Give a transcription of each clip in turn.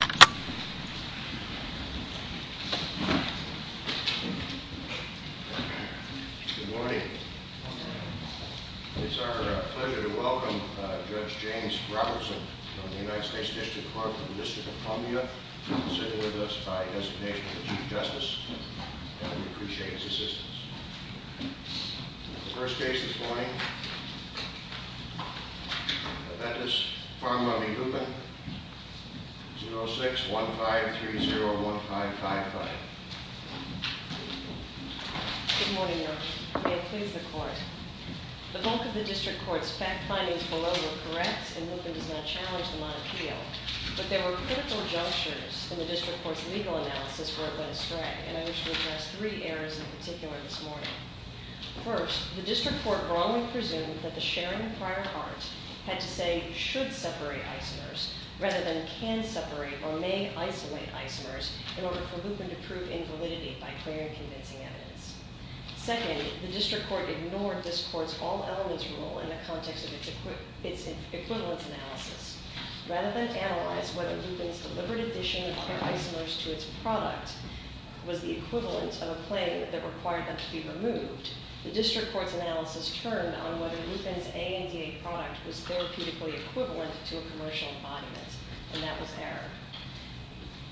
Good morning. It's our pleasure to welcome Judge James Robertson from the United States District Court of the District of Columbia, sitting with us by designation of the Chief Justice, and we appreciate his assistance. The first case this morning, Aventis Pharma v. Lupin, 06-1530-1555. Good morning, Your Honor. May it please the Court. The bulk of the District Court's fact findings below were correct, and Lupin does not challenge them on appeal, but there were critical junctures in the District Court's legal analysis where it went astray, and I wish to address three errors in particular this morning. First, the District Court wrongly presumed that the sharing prior art had to say should separate isomers rather than can separate or may isolate isomers in order for Lupin to prove invalidity by clear and convincing evidence. Second, the District Court ignored this Court's all-elements rule in the context of its equivalence analysis. Rather than analyze whether Lupin's deliberate addition of other isomers to its product was the equivalent of a claim that required them to be removed, the District Court's analysis turned on whether Lupin's ANDA product was therapeutically equivalent to a commercial embodiment, and that was error.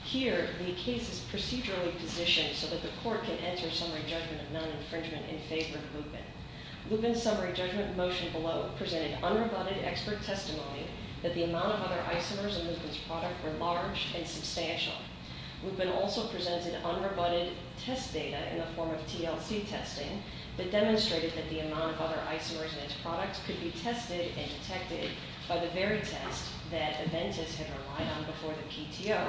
Here, the case is procedurally positioned so that the Court can enter summary judgment of non-infringement in favor of Lupin. Lupin's summary judgment motion below presented unrebutted expert testimony that the amount of other isomers in Lupin's product were large and substantial. Lupin also presented unrebutted test data in the form of TLC testing that demonstrated that the amount of other isomers in its product could be tested and detected by the very test that Aventis had relied on before the PTO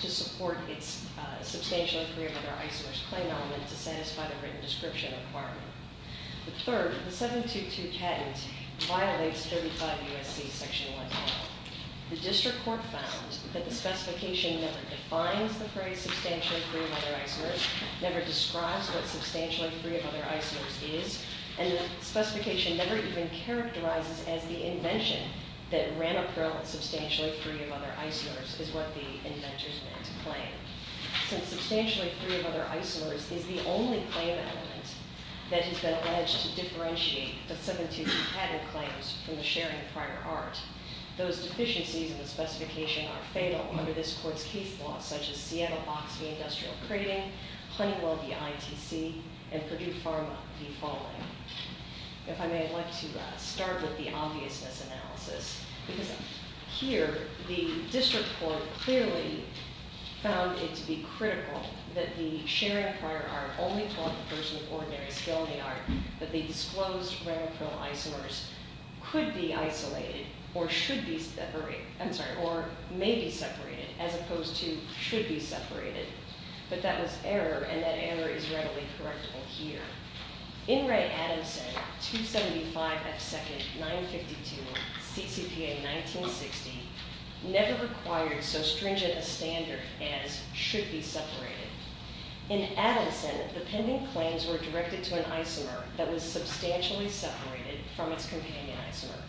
to support its substantial and clear of other isomers claim element to satisfy the written description requirement. Third, the 722 patent violates 35 U.S.C. Section 110. The District Court found that the specification never defines the phrase substantially free of other isomers, never describes what substantially free of other isomers is, and the specification never even characterizes as the invention that Ramaprel and substantially free of other isomers is what the inventors meant to claim. Since substantially free of other isomers is the only claim element that has been alleged to differentiate the 722 patent claims from the sharing of prior art, those deficiencies in the specification are fatal under this Court's case law such as Seattle Boxing Industrial Crating, Honeywell v. ITC, and Purdue Pharma v. Falling. If I may, I'd like to start with the obviousness analysis because here the District Court clearly found it to be critical that the sharing of prior art only taught the person with ordinary skill in the art, that the disclosed Ramaprel isomers could be isolated or should be separated, I'm sorry, or may be separated as opposed to should be separated, but that was error and that error is readily correctable here. In Ray Adamson, 275 F. Second, 952 CCPA 1960, never required so stringent a standard as should be separated. In Adamson, the pending claims were directed to an isomer that was isolated from its companion isomer.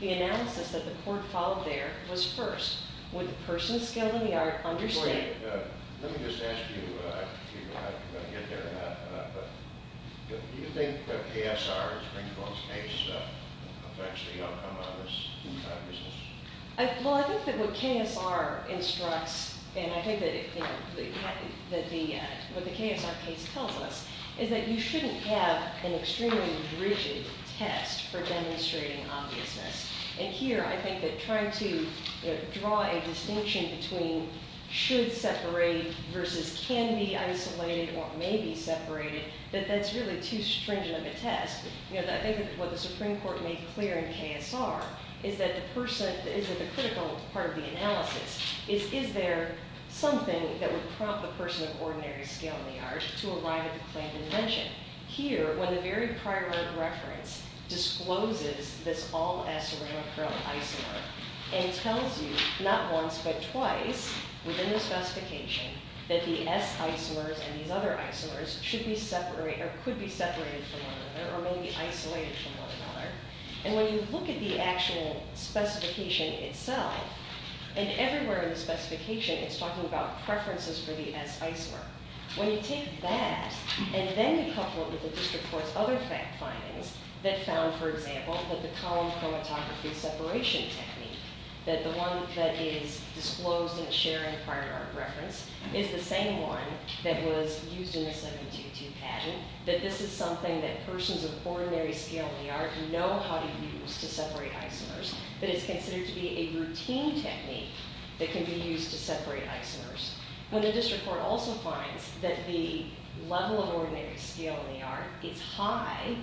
The analysis that the Court followed there was first, would the person skilled in the art understand... Let me just ask you, I don't know if you're going to get there or not, but do you think that KSR, Springfield's case, will actually outcome out of this? Well, I think that what KSR instructs and I think that what the KSR case tells us is that you shouldn't have an extremely rigid test for demonstrating obviousness and here I think that trying to draw a distinction between should separate versus can be isolated or may be separated, that that's really too stringent of a test. I think that what the Supreme Court made clear in KSR is that the person, is that the critical part of the analysis is, is there something that would prompt the person of ordinary skill in the art to arrive at the claimed invention. Here, when the very prior reference discloses this all-S Ramacron isomer and tells you, not once but twice, within the specification, that the S isomers and these other isomers should be separated or could be separated from one another or may be isolated from one another, and when you look at the actual specification itself, and everywhere in the specification it's talking about preferences for the S isomer, when you take that and then you couple it with the district court's other fact findings that found, for example, that the column chromatography separation technique, that the one that is disclosed in the sharing prior art reference is the same one that was used in the 722 patent, that this is something that persons of ordinary skill in the art know how to use to separate isomers, that it's considered to be a routine technique that can be used to separate isomers. When the district court also finds that the level of ordinary skill in the art is high,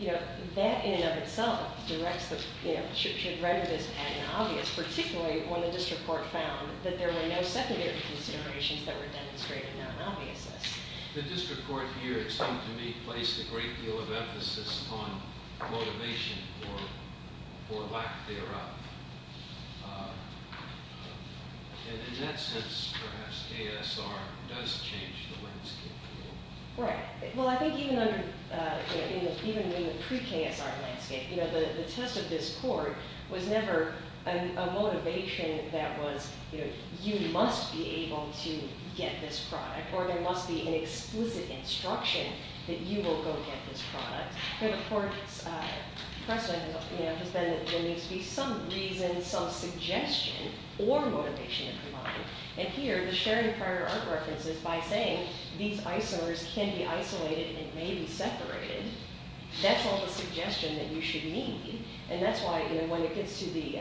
you know, that in and of itself directs the, you know, should read this as obvious, particularly when the district court found that there were no secondary considerations that were demonstrated non-obviousness. The district court here, it seemed to me, placed a great deal of emphasis on motivation or lack thereof. And in that sense, perhaps KSR does change the landscape a little. Right. Well, I think even under, you know, even in the pre-KSR landscape, you know, the test of this court was never a motivation that was, you know, you must be able to get this product, or there must be an explicit instruction that you will go get this product. Here the court's precedent has been that there needs to be some reason, some suggestion or motivation to provide. And here, the sharing of prior art references by saying these isomers can be isolated and may be separated, that's all the suggestion that you should need. And that's why, you know, when it gets to the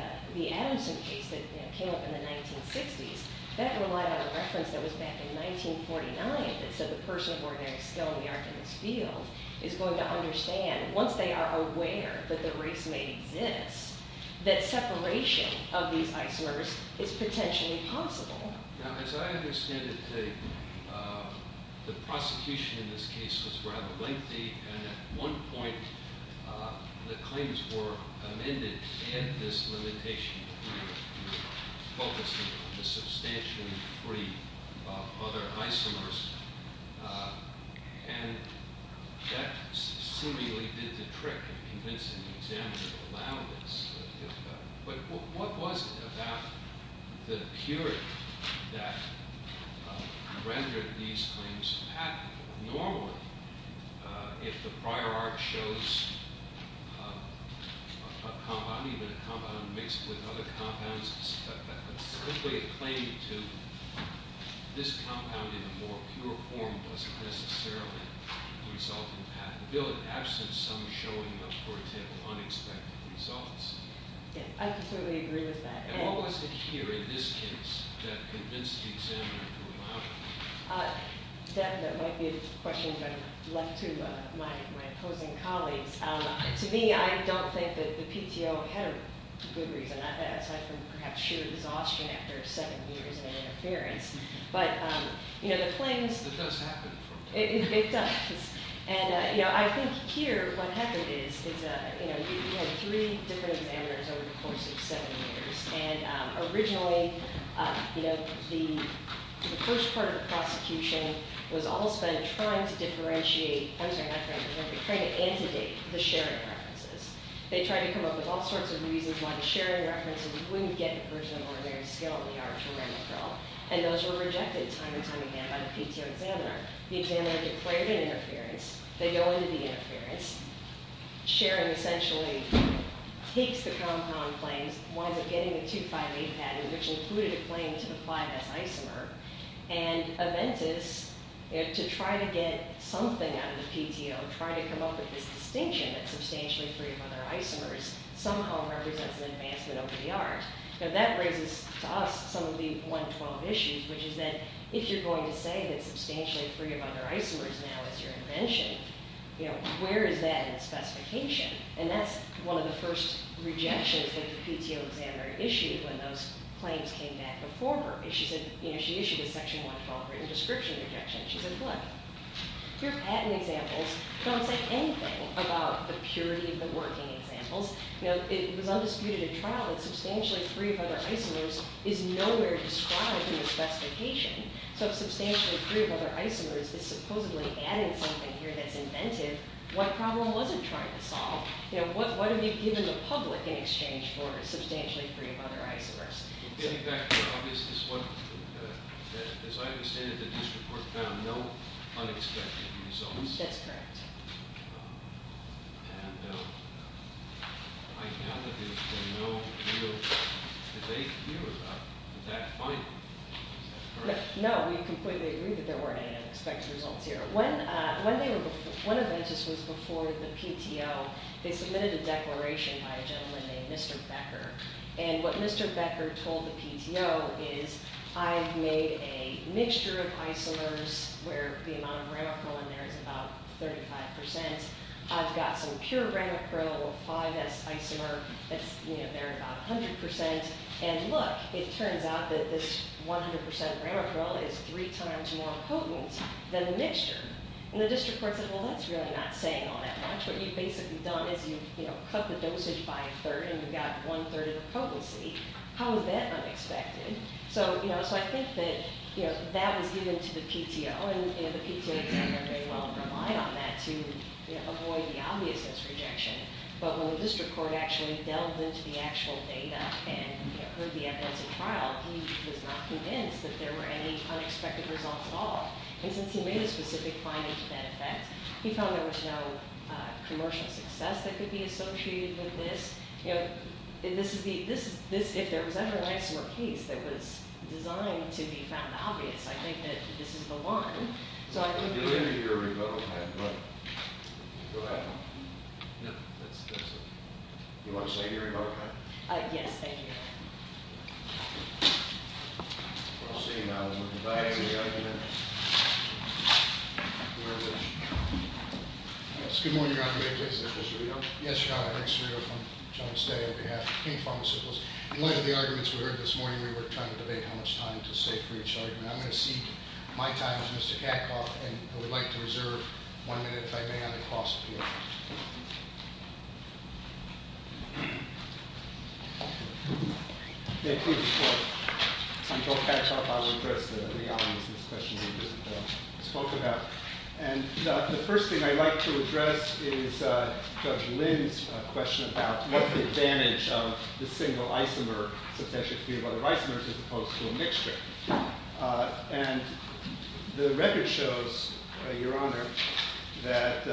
Adamson case that came up in the 1960s, that relied on a reference that was back in 1949 that said the person of ordinary skill in the art in this field is going to understand, once they are aware that the race may exist, that separation of these isomers is potentially possible. Now, as I understand it, the prosecution in this case was rather lengthy, and at one point the claims were amended and this limitation was removed, focusing on the substantially free of other isomers, and that seemingly did the trick of convincing the examiner to allow this. But what was it about the period that rendered these claims patentable? Normally, if the prior art shows a compound, even a compound mixed with other compounds, simply a claim to this compound in a more pure form doesn't necessarily result in patentability in absence of some showing of, for example, unexpected results. I completely agree with that. And what was the cure in this case that convinced the examiner to allow it? That might be a question left to my opposing colleagues. To me, I don't think the PTO had a good reason. Aside from perhaps sheer exhaustion after seven years of interference. But the claims... It does happen. It does. And I think here, what happened is, we had three different examiners over the course of seven years, and originally, the first part of the prosecution was all spent trying to differentiate... I'm sorry, not differentiate, but trying to antidate the sharing references. They tried to come up with all sorts of reasons why the sharing references wouldn't get the version of ordinary scale in the art from Randall Krill, and those were rejected time and time again by the PTO examiner. The examiner declared an interference. They go into the interference. Sharing essentially takes the compound claims, winds up getting the 258 patent, which included a claim to the 5S isomer. And Aventis, to try to get something out of the PTO, tried to come up with this distinction that substantially free of under isomers somehow represents an advancement over the art. Now, that raises to us some of the 112 issues, which is that if you're going to say that substantially free of under isomers now is your invention, where is that in the specification? And that's one of the first rejections that the PTO examiner issued when those claims came back before her. She issued a section 112 written description rejection. She said, look, your patent examples don't say anything about... the purity of the working examples. It was undisputed in trial that substantially free of other isomers is nowhere described in the specification. So if substantially free of other isomers is supposedly adding something here that's inventive, what problem was it trying to solve? What have you given the public in exchange for substantially free of other isomers? As I understand it, the district court found no unexpected results. That's correct. No, we completely agree that there weren't any unexpected results here. When Aventis was before the PTO, they submitted a declaration by a gentleman named Mr. Becker. And what Mr. Becker told the PTO is, I've made a mixture of isomers where the amount of Ramacryl in there is about 35%. I've got some pure Ramacryl, a 5S isomer that's there at about 100%. And look, it turns out that this 100% Ramacryl is three times more potent than the mixture. And the district court said, well, that's really not saying all that much. What you've basically done is you've cut the dosage by a third and you've got one third of the potency. How is that unexpected? So I think that that was given to the PTO. And the PTO did very well to rely on that to avoid the obviousness rejection. But when the district court actually delved into the actual data and heard the evidence in trial, he was not convinced that there were any unexpected results at all. And since he made a specific finding to that effect, he felt there was no commercial success that could be associated with this. You know, if there was ever an isomer case that was designed to be found obvious, I think that this is the one. So I think that- I'll give you your rebuttal pen. Go ahead. No, that's it. You want to sign your rebuttal pen? Yes, thank you. Well, I'll see you now. We're going to go back to the argument. Where is it? Yes, good morning, Your Honor. Mr. Cerullo? Yes, Your Honor. Eric Cerullo from Jones Day on behalf of King Pharmaceuticals. In light of the arguments we heard this morning, we were trying to debate how much time to save for each argument. I'm going to seek my time with Mr. Katkoff, and I would like to reserve one minute, if I may, on the cost appeal. Thank you, Your Honor. I'm Bill Katkoff. I'll address the audience in this question we just spoke about. And the first thing I'd like to address is Judge Lynn's question about what's the advantage of the single isomer, substantially free of other isomers, as opposed to a mixture. And the record shows, Your Honor, that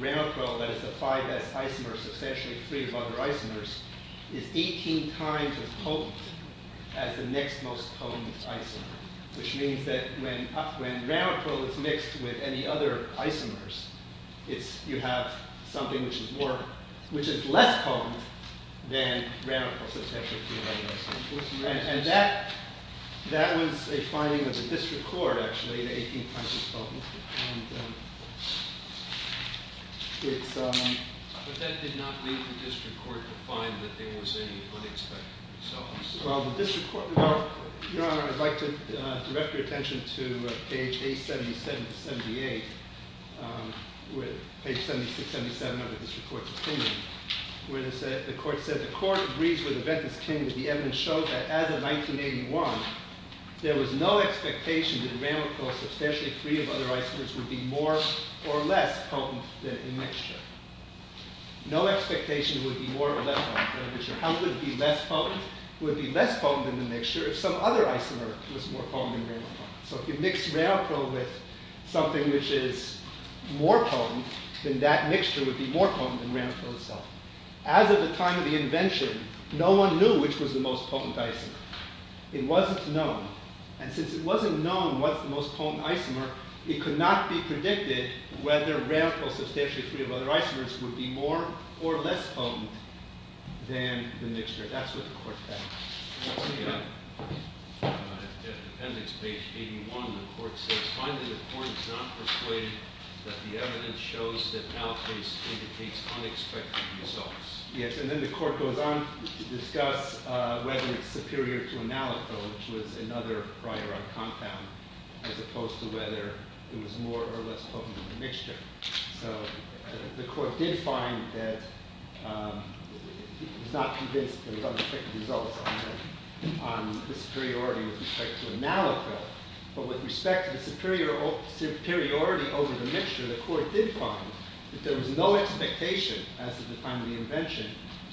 Ramipro, that is a 5S isomer, substantially free of other isomers, is 18 times as potent as the next most potent isomer, which means that when Ramipro is mixed with any other isomers, you have something which is less potent than Ramipro, substantially free of other isomers. And that was a finding of the district court, actually, in 18 times as potent. But that did not lead the district court to find that there was any unexpected results. Well, the district court, Your Honor, I'd like to direct your attention to page 877-78, page 7677 of the district court's opinion, where the court said, the court agrees with the Ventus claim that the evidence shows that as of 1981, there was no expectation that Ramipro isomers would be more or less potent than a mixture. No expectation would be more or less potent than a mixture. How could it be less potent? It would be less potent than the mixture if some other isomer was more potent than Ramipro. So if you mix Ramipro with something which is more potent, then that mixture would be more potent than Ramipro itself. As of the time of the invention, no one knew which was the most potent isomer. It wasn't known. And since it wasn't known what's the most potent isomer, it could not be predicted whether Ramipro, substantially free of other isomers, would be more or less potent than the mixture. That's what the court found. At appendix page 81, the court says, finally, the court is not persuaded that the evidence shows that Naloxone indicates unexpected results. Yes. And then the court goes on to discuss whether it's superior to a Naloxone, which was another prior on compound, as opposed to whether it was more or less potent than the mixture. So the court did find that it was not convinced that there was unexpected results on the superiority with respect to a Naloxone. But with respect to the superiority over the mixture, the court did find that there was no expectation, as of the time of the invention,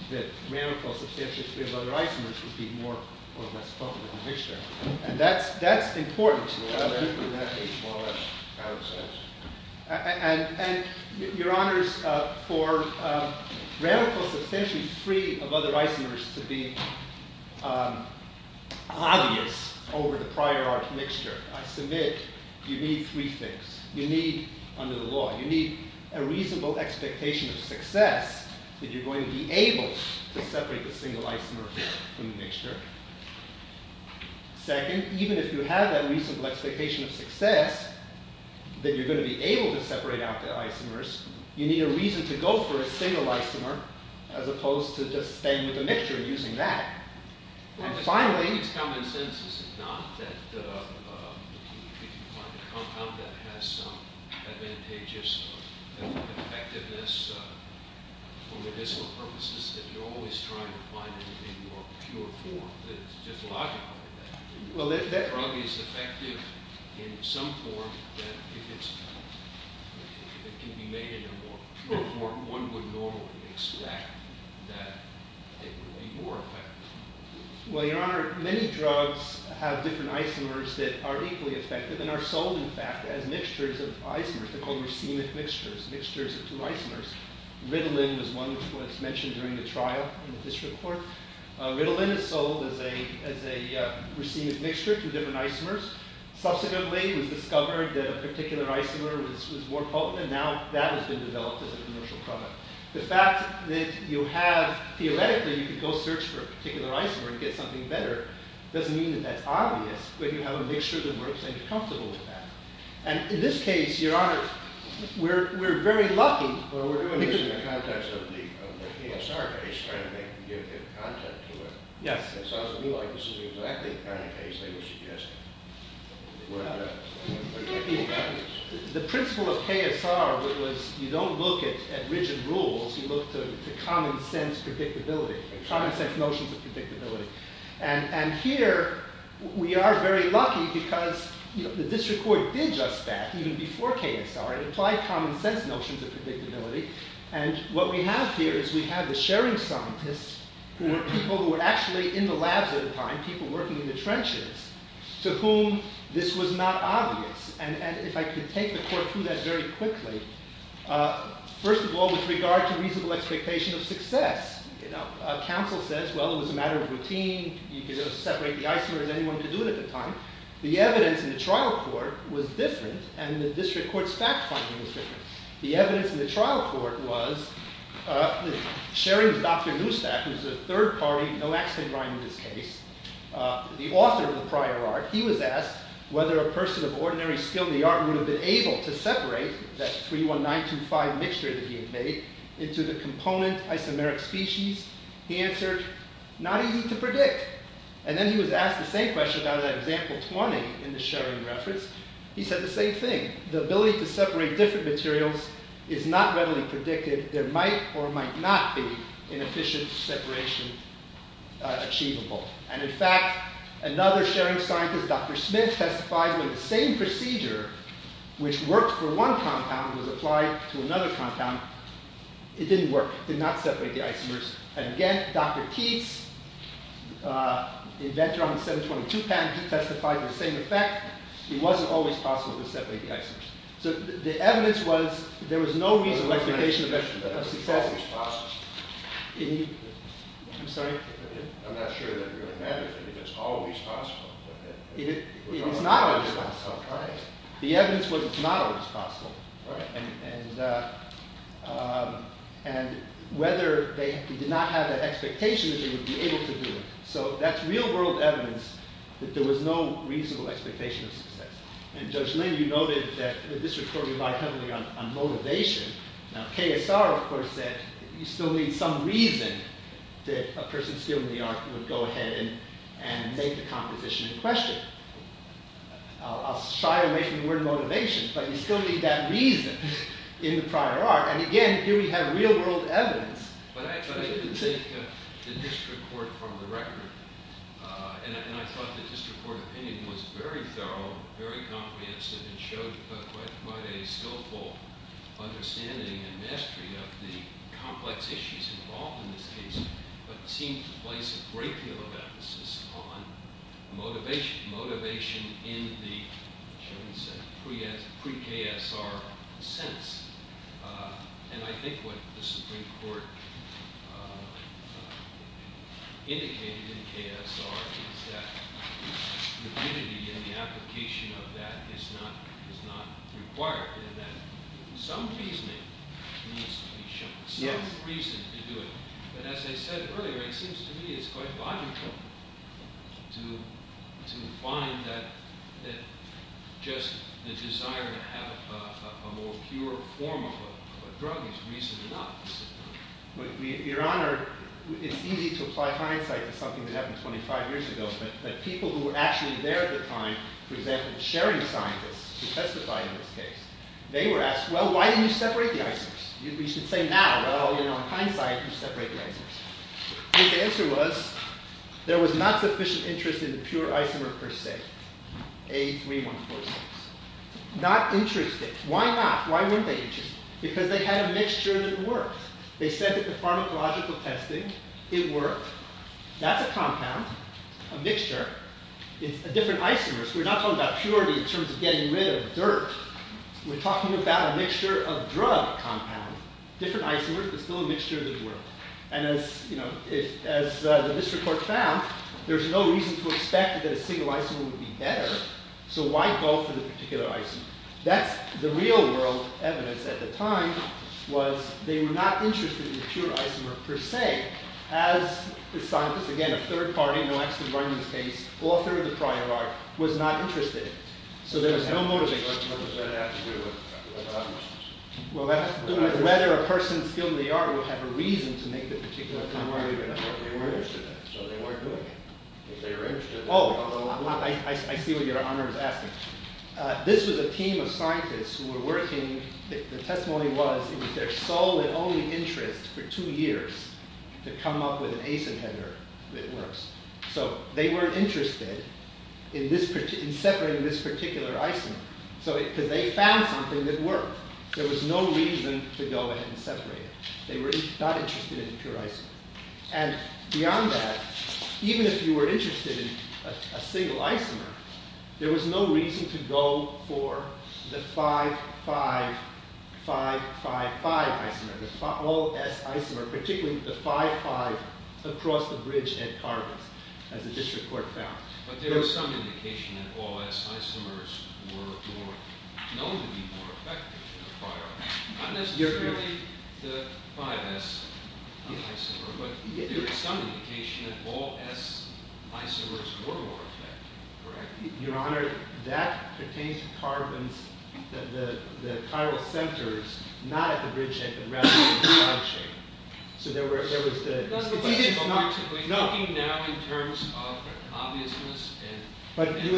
that Ramipro, substantially free of other isomers, would be more or less potent than the mixture. And that's important. And your honors, for Ramipro, substantially free of other isomers, to be obvious over the prior art mixture, I submit you need three things. First, you need, under the law, you need a reasonable expectation of success that you're going to be able to separate the single isomer from the mixture. Second, even if you have that reasonable expectation of success, that you're going to be able to separate out the isomers, you need a reason to go for a single isomer, as opposed to just staying with the mixture and using that. And finally, It's common sense, is it not, that if you find a compound that has some advantageous effectiveness for medicinal purposes, that you're always trying to find a more pure form that's just logical. That drug is effective in some form, that if it can be made in a more pure form, one would normally expect that it would be more effective. Well, your honor, many drugs have different isomers that are equally effective and are sold, in fact, as mixtures of isomers. They're called racemic mixtures, mixtures of two isomers. Ritalin was one which was mentioned during the trial in the district court. Ritalin is sold as a racemic mixture, two different isomers. Subsequently, it was discovered that a particular isomer was more potent, and now that has been developed as a commercial product. The fact that you have, theoretically, you can go search for a particular isomer and get something better, doesn't mean that that's obvious, but you have a mixture that works and you're comfortable with that. And in this case, your honor, we're very lucky. Well, we're doing this in the context of the KSR case, trying to make, give good content to it. Yes. It sounds to me like this is exactly the kind of case they were suggesting. Well, the principle of KSR was you don't look at rigid rules, you look to common sense predictability, common sense notions of predictability. And here, we are very lucky because the district court did just that, even before KSR. It applied common sense notions of predictability, and what we have here is we have the sharing scientists who were people who were actually in the labs at the time, people working in the trenches. To whom, this was not obvious. And if I could take the court through that very quickly, first of all, with regard to reasonable expectation of success. You know, counsel says, well, it was a matter of routine, you could separate the isomers, anyone could do it at the time. The evidence in the trial court was different, and the district court's fact finding was different. The evidence in the trial court was, sharing Dr. Neustadt, who's a third party, no accident rhyme in this case, the author of the prior art, he was asked whether a person of ordinary skill in the art would have been able to separate that 31925 mixture that he had made into the component isomeric species. He answered, not easy to predict. And then he was asked the same question about that example 20 in the sharing reference. He said the same thing. The ability to separate different materials is not readily predicted. There might or might not be an efficient separation achievable. And in fact, another sharing scientist, Dr. Smith, testified that the same procedure, which worked for one compound, was applied to another compound. It didn't work. It did not separate the isomers. And again, Dr. Keats, inventor on the 722 patent, he testified to the same effect. It wasn't always possible to separate the isomers. So the evidence was there was no reasonable expectation of success. I'm sorry? I'm not sure that really matters. I think it's always possible. It is not always possible. Right. The evidence was it's not always possible. Right. And whether they did not have that expectation that they would be able to do it. So that's real world evidence that there was no reasonable expectation of success. And Judge Lynn, you noted that the district court relied heavily on motivation. Now, KSR, of course, said you still need some reason that a person still in the art would go ahead and make the composition in question. I'll shy away from the word motivation, but you still need that reason in the prior art. And again, here we have real world evidence. But I have to take the district court from the record. And I thought the district court opinion was very thorough, very comprehensive, and showed quite a skillful understanding and mastery of the complex issues involved in this case, but seemed to place a great deal of emphasis on motivation. Motivation in the, shall we say, pre-KSR sense. And I think what the Supreme Court indicated in KSR is that liquidity in the application of that is not required and that some reasoning needs to be shown, some reason to do it. But as I said earlier, it seems to me it's quite logical to find that just the desire to have a more pure form of a drug is reason enough. Your Honor, it's easy to apply hindsight to something that happened 25 years ago, but people who were actually there at the time, for example, sharing scientists who testified in this case, they were asked, well, why didn't you separate the isomers? You should say now, well, in hindsight, you separate the isomers. And the answer was there was not sufficient interest in pure isomer per se, A3146. Not interested. Why not? Why weren't they interested? Because they had a mixture that worked. They said that the pharmacological testing, it worked. That's a compound, a mixture. It's a different isomer. So we're not talking about purity in terms of getting rid of dirt. We're talking about a mixture of drug compounds, different isomers, but still a mixture that worked. And as the district court found, there's no reason to expect that a single isomer would be better. So why go for the particular isomer? That's the real-world evidence at the time was they were not interested in the pure isomer per se, as the scientists, again, a third party in the Lexton-Brunden case, author of the prior art, was not interested. So there was no motivation. What does that have to do with other options? Well, that has to do with whether a person skilled in the art would have a reason to make the particular compound. They weren't interested in that, so they weren't doing it. Oh, I see what your honor is asking. This was a team of scientists who were working. The testimony was it was their sole and only interest for two years to come up with an ascent header that works. So they weren't interested in separating this particular isomer because they found something that worked. There was no reason to go ahead and separate it. They were not interested in the pure isomer. And beyond that, even if you were interested in a single isomer, there was no reason to go for the 5-5-5-5-5 isomer, the all-s isomer, particularly the 5-5 across the bridge at Carbis, as the district court found. But there was some indication that all-s isomers were known to be more effective in a prior art. Not necessarily the 5-s isomer, but there was some indication that all-s isomers were more effective, correct? Your honor, that pertains to Carbis, the chiral centers, not at the bridgehead, but rather at the ground shape. So there was the... We're talking now in terms of obviousness and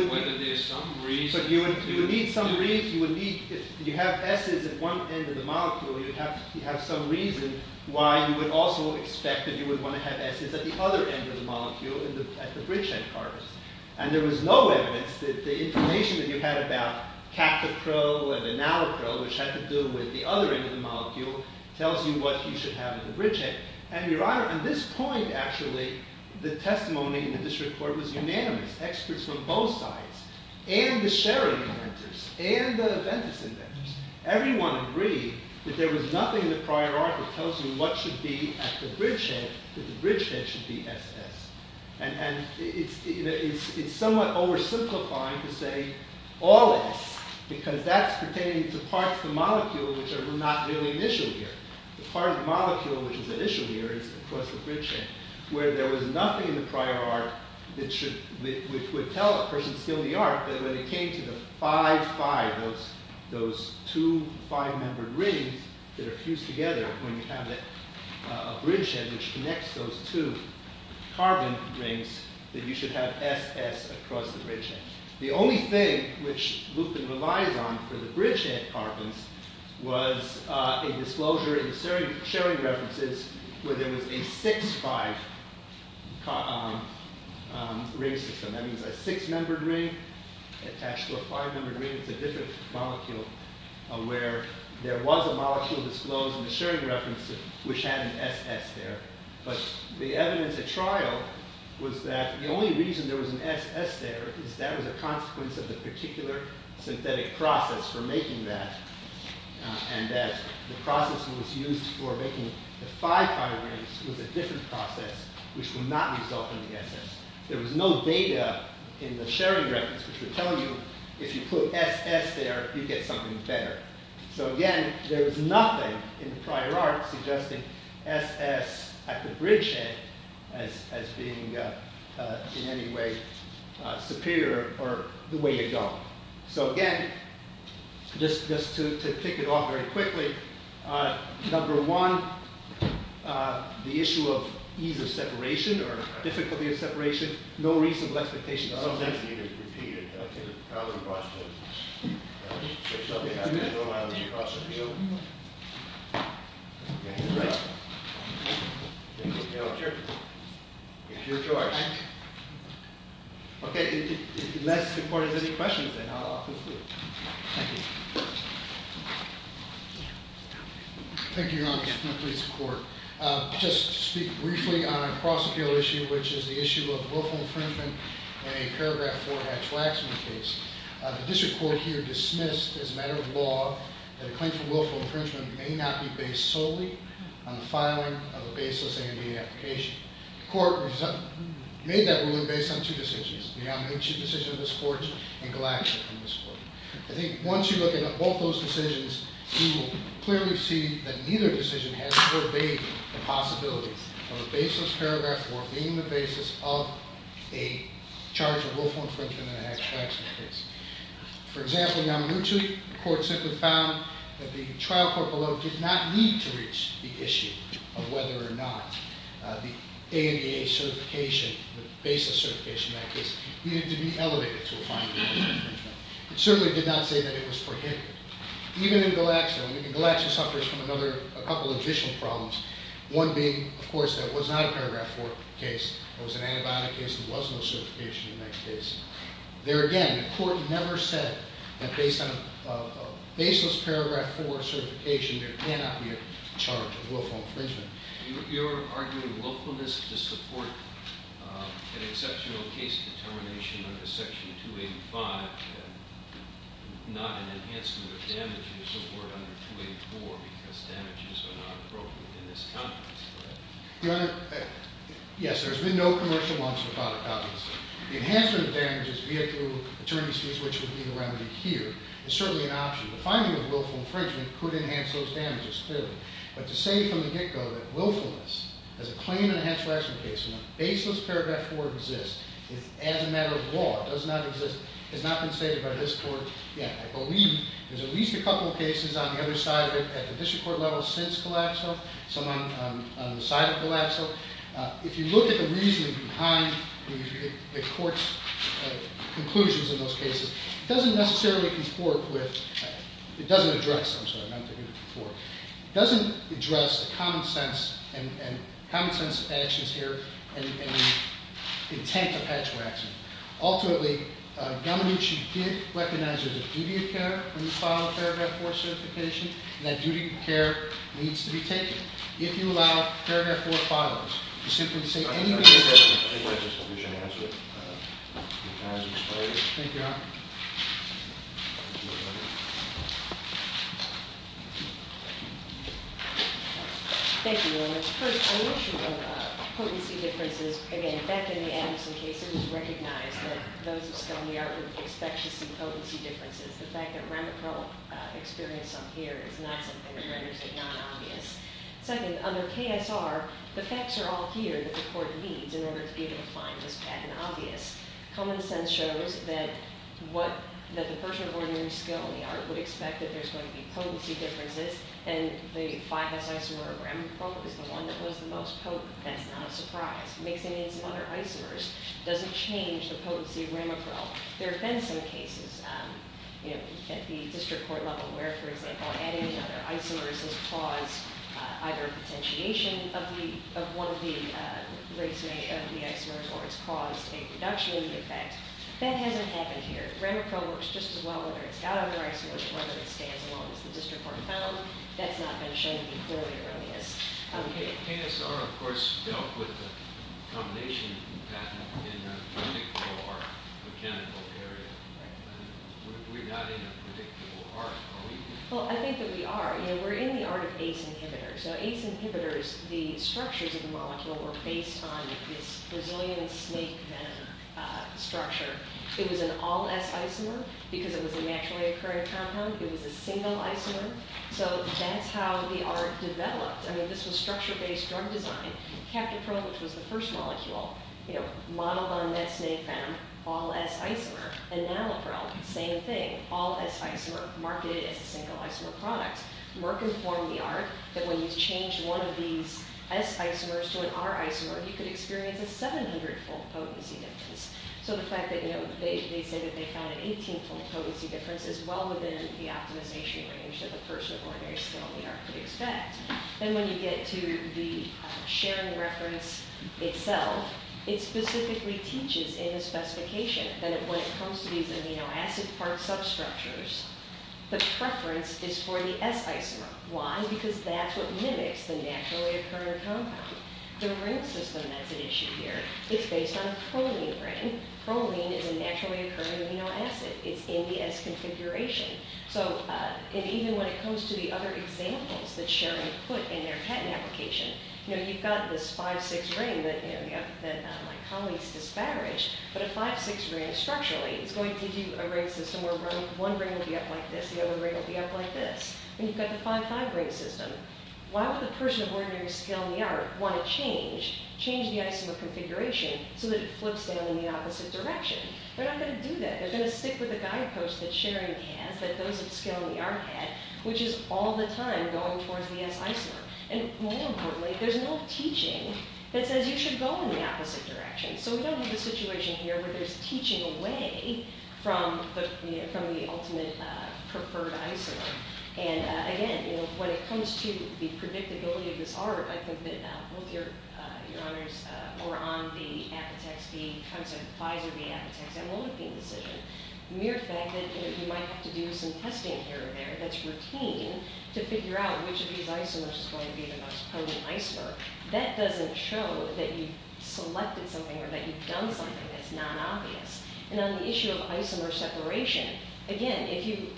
whether there's some reason... But you would need some reason. If you have s's at one end of the molecule, you have some reason why you would also expect that you would want to have s's at the other end of the molecule at the bridgehead, Carbis. And there was no evidence that the information that you had about cactochrome and enalochrome, which had to do with the other end of the molecule, tells you what you should have at the bridgehead. And your honor, at this point actually, the testimony in the district court was unanimous. Experts from both sides, and the Sherry inventors, and the Ventus inventors, everyone agreed that there was nothing in the prior art that tells you what should be at the bridgehead, that the bridgehead should be s-s. And it's somewhat oversimplifying to say all-s, because that's pertaining to parts of the molecule which are not really an issue here. The part of the molecule which is an issue here is across the bridgehead, where there was nothing in the prior art that would tell a person still in the art that when it came to the 5-5, those two five-membered rings that are fused together, when you have a bridgehead which connects those two carbon rings, that you should have s-s across the bridgehead. The only thing which Lupin relies on for the bridgehead carbons was a disclosure in the Sherry references where there was a 6-5 ring system. That means a six-membered ring attached to a five-membered ring. It's a different molecule where there was a molecule disclosed in the Sherry references which had an s-s there. But the evidence at trial was that the only reason there was an s-s there is that was a consequence of the particular synthetic process for making that and that the process which was used for making the five carbon rings was a different process which would not result in the s-s. There was no data in the Sherry references which would tell you if you put s-s there, you'd get something better. So again, there was nothing in the prior art suggesting s-s at the bridgehead as being in any way superior or the way you'd go. So again, just to tick it off very quickly, number one, the issue of ease of separation or difficulty of separation, no reasonable expectations of s-s. Okay, unless the court has any questions, then I'll conclude. Thank you. Thank you, Your Honor. Please support. Just to speak briefly on a cross-field issue, which is the issue of wolfhound infringement in a Paragraph 4 Hatch-Waxman case. The district court here dismissed as a matter of law that a claim for wolfhound infringement may not be based solely on the filing of a baseless A&B application. The court made that ruling based on two decisions. The omnibene chief decision of this court and Glaxer from this court. I think once you look at both those decisions, you will clearly see that neither decision has forbade the possibility of a baseless Paragraph 4 being the basis of a charge of wolfhound infringement in a Hatch-Waxman case. For example, not mutually, the court simply found that the trial court below did not need to reach the issue of whether or not the A&EA certification, the Baseless Certification Act, is needed to be elevated to a fine of wolfhound infringement. It certainly did not say that it was prohibited. Even in Glaxer, and Glaxer suffers from a couple additional problems. One being, of course, that it was not a Paragraph 4 case. It was an antibiotic case and there was no certification in that case. There again, the court never said that based on a baseless Paragraph 4 certification, there cannot be a charge of wolfhound infringement. You're arguing wolfhoundness to support an exceptional case determination under Section 285, not an enhancement of damage you support under 284, because damages are not appropriate in this context. Your Honor, yes, there's been no commercial wants without a consequence. The enhancement of damages via paternity leave, which would be the remedy here, is certainly an option. The finding of wolfhound infringement could enhance those damages clearly. But to say from the get-go that wolfhoundness as a claim in a natural action case, when a baseless Paragraph 4 exists as a matter of law, it does not exist, has not been stated by this court yet. I believe there's at least a couple of cases on the other side of it at the district court level since Glaxo, some on the side of Glaxo. If you look at the reasoning behind the court's conclusions in those cases, it doesn't necessarily conform with, it doesn't address them, so I'm not going to conform. It doesn't address the common sense and common sense actions here and the intent of patchwork action. Ultimately, Dominucci did recognize there's a duty of care when you file a Paragraph 4 certification, and that duty of care needs to be taken. If you allow Paragraph 4 filings, you simply say- I think that's just what we should answer. Thank you, Your Honor. Thank you, Your Honor. First, an issue of potency differences, again, back in the Anderson case, it was recognized that those of us who are in the art group expect to see potency differences. The fact that Ramachal experienced some here is not something that renders it non-obvious. Second, under KSR, the facts are all here that the court needs in order to be able to find this pattern obvious. Common sense shows that the person of ordinary skill in the art would expect that there's going to be potency differences, and the 5S isomer of Ramachal is the one that was the most potent. That's not a surprise. Mixing in some other isomers doesn't change the potency of Ramachal. There have been some cases at the district court level where, for example, adding another isomer has caused either a potentiation of one of the isomers, or it's caused a reduction in the effect. That hasn't happened here. Ramachal works just as well whether it's got other isomers or whether it stays as long as the district court found. That's not been shown to be clearly or obvious. KSR, of course, dealt with the combination pattern in a predictable or mechanical area. We're not in a predictable art, are we? Well, I think that we are. We're in the art of ACE inhibitors. ACE inhibitors, the structures of the molecule were based on this Brazilian snake venom structure. It was an all-S isomer because it was a naturally occurring compound. It was a single isomer. That's how the art developed. This was structure-based drug design. Captopril, which was the first molecule, modeled on that snake venom, all-S isomer, and Nalopril, same thing, all-S isomer, marketed as a single isomer product. Merck informed the art that when you changed one of these S isomers to an R isomer, you could experience a 700-fold potency difference. The fact that they found an 18-fold potency difference is well within the optimization range that the person of ordinary skill in the art could expect. When you get to the sharing reference itself, it specifically teaches in the specification that when it comes to these amino acid part substructures, the preference is for the S isomer. Why? Because that's what mimics the naturally occurring compound. The ring system, that's an issue here. It's based on a proline ring. Proline is a naturally occurring amino acid. It's in the S configuration. Even when it comes to the other examples that Sharon put in their patent application, you've got this 5-6 ring that my colleagues disparaged, but a 5-6 ring structurally is going to do a ring system where one ring will be up like this, the other ring will be up like this. You've got the 5-5 ring system. Why would the person of ordinary skill in the art want to change the isomer configuration so that it flips down in the opposite direction? They're not going to do that. They're going to stick with the guidepost that Sharon has, that those of skill in the art had, which is all the time going towards the S isomer. More importantly, there's no teaching that says you should go in the opposite direction. We don't have a situation here where there's teaching away from the ultimate preferred isomer. Again, when it comes to the predictability of this art, I think that both your honors were on the Apotex B concept, Pfizer B, Apotex A, molybdenum decision. Mere fact that you might have to do some testing here or there that's routine to figure out which of these isomers is going to be the most potent isomer, that doesn't show that you've selected something or that you've done something that's non-obvious. And on the issue of isomer separation, again,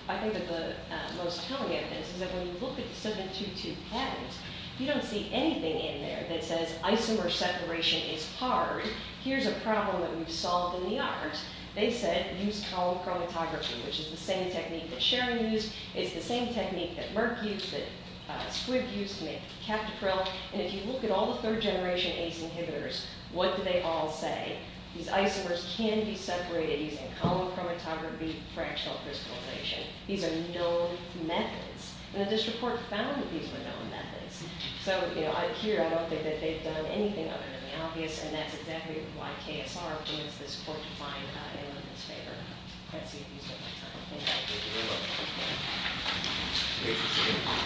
I think that the most telling evidence is that when you look at the 7-2-2 patterns, you don't see anything in there that says isomer separation is hard. Here's a problem that we've solved in the art. They said use column chromatography, which is the same technique that Sharon used. It's the same technique that Merck used, that Squibb used to make the Captopril. And if you look at all the third-generation ACE inhibitors, what do they all say? These isomers can be separated using column chromatography, fractional crystallization. These are known methods. And the district court found that these were known methods. So, you know, here I don't think that they've done anything other than the obvious, and that's exactly why KSR is this court-defined evidence-maker. Let's see if he's got more time. Thank you.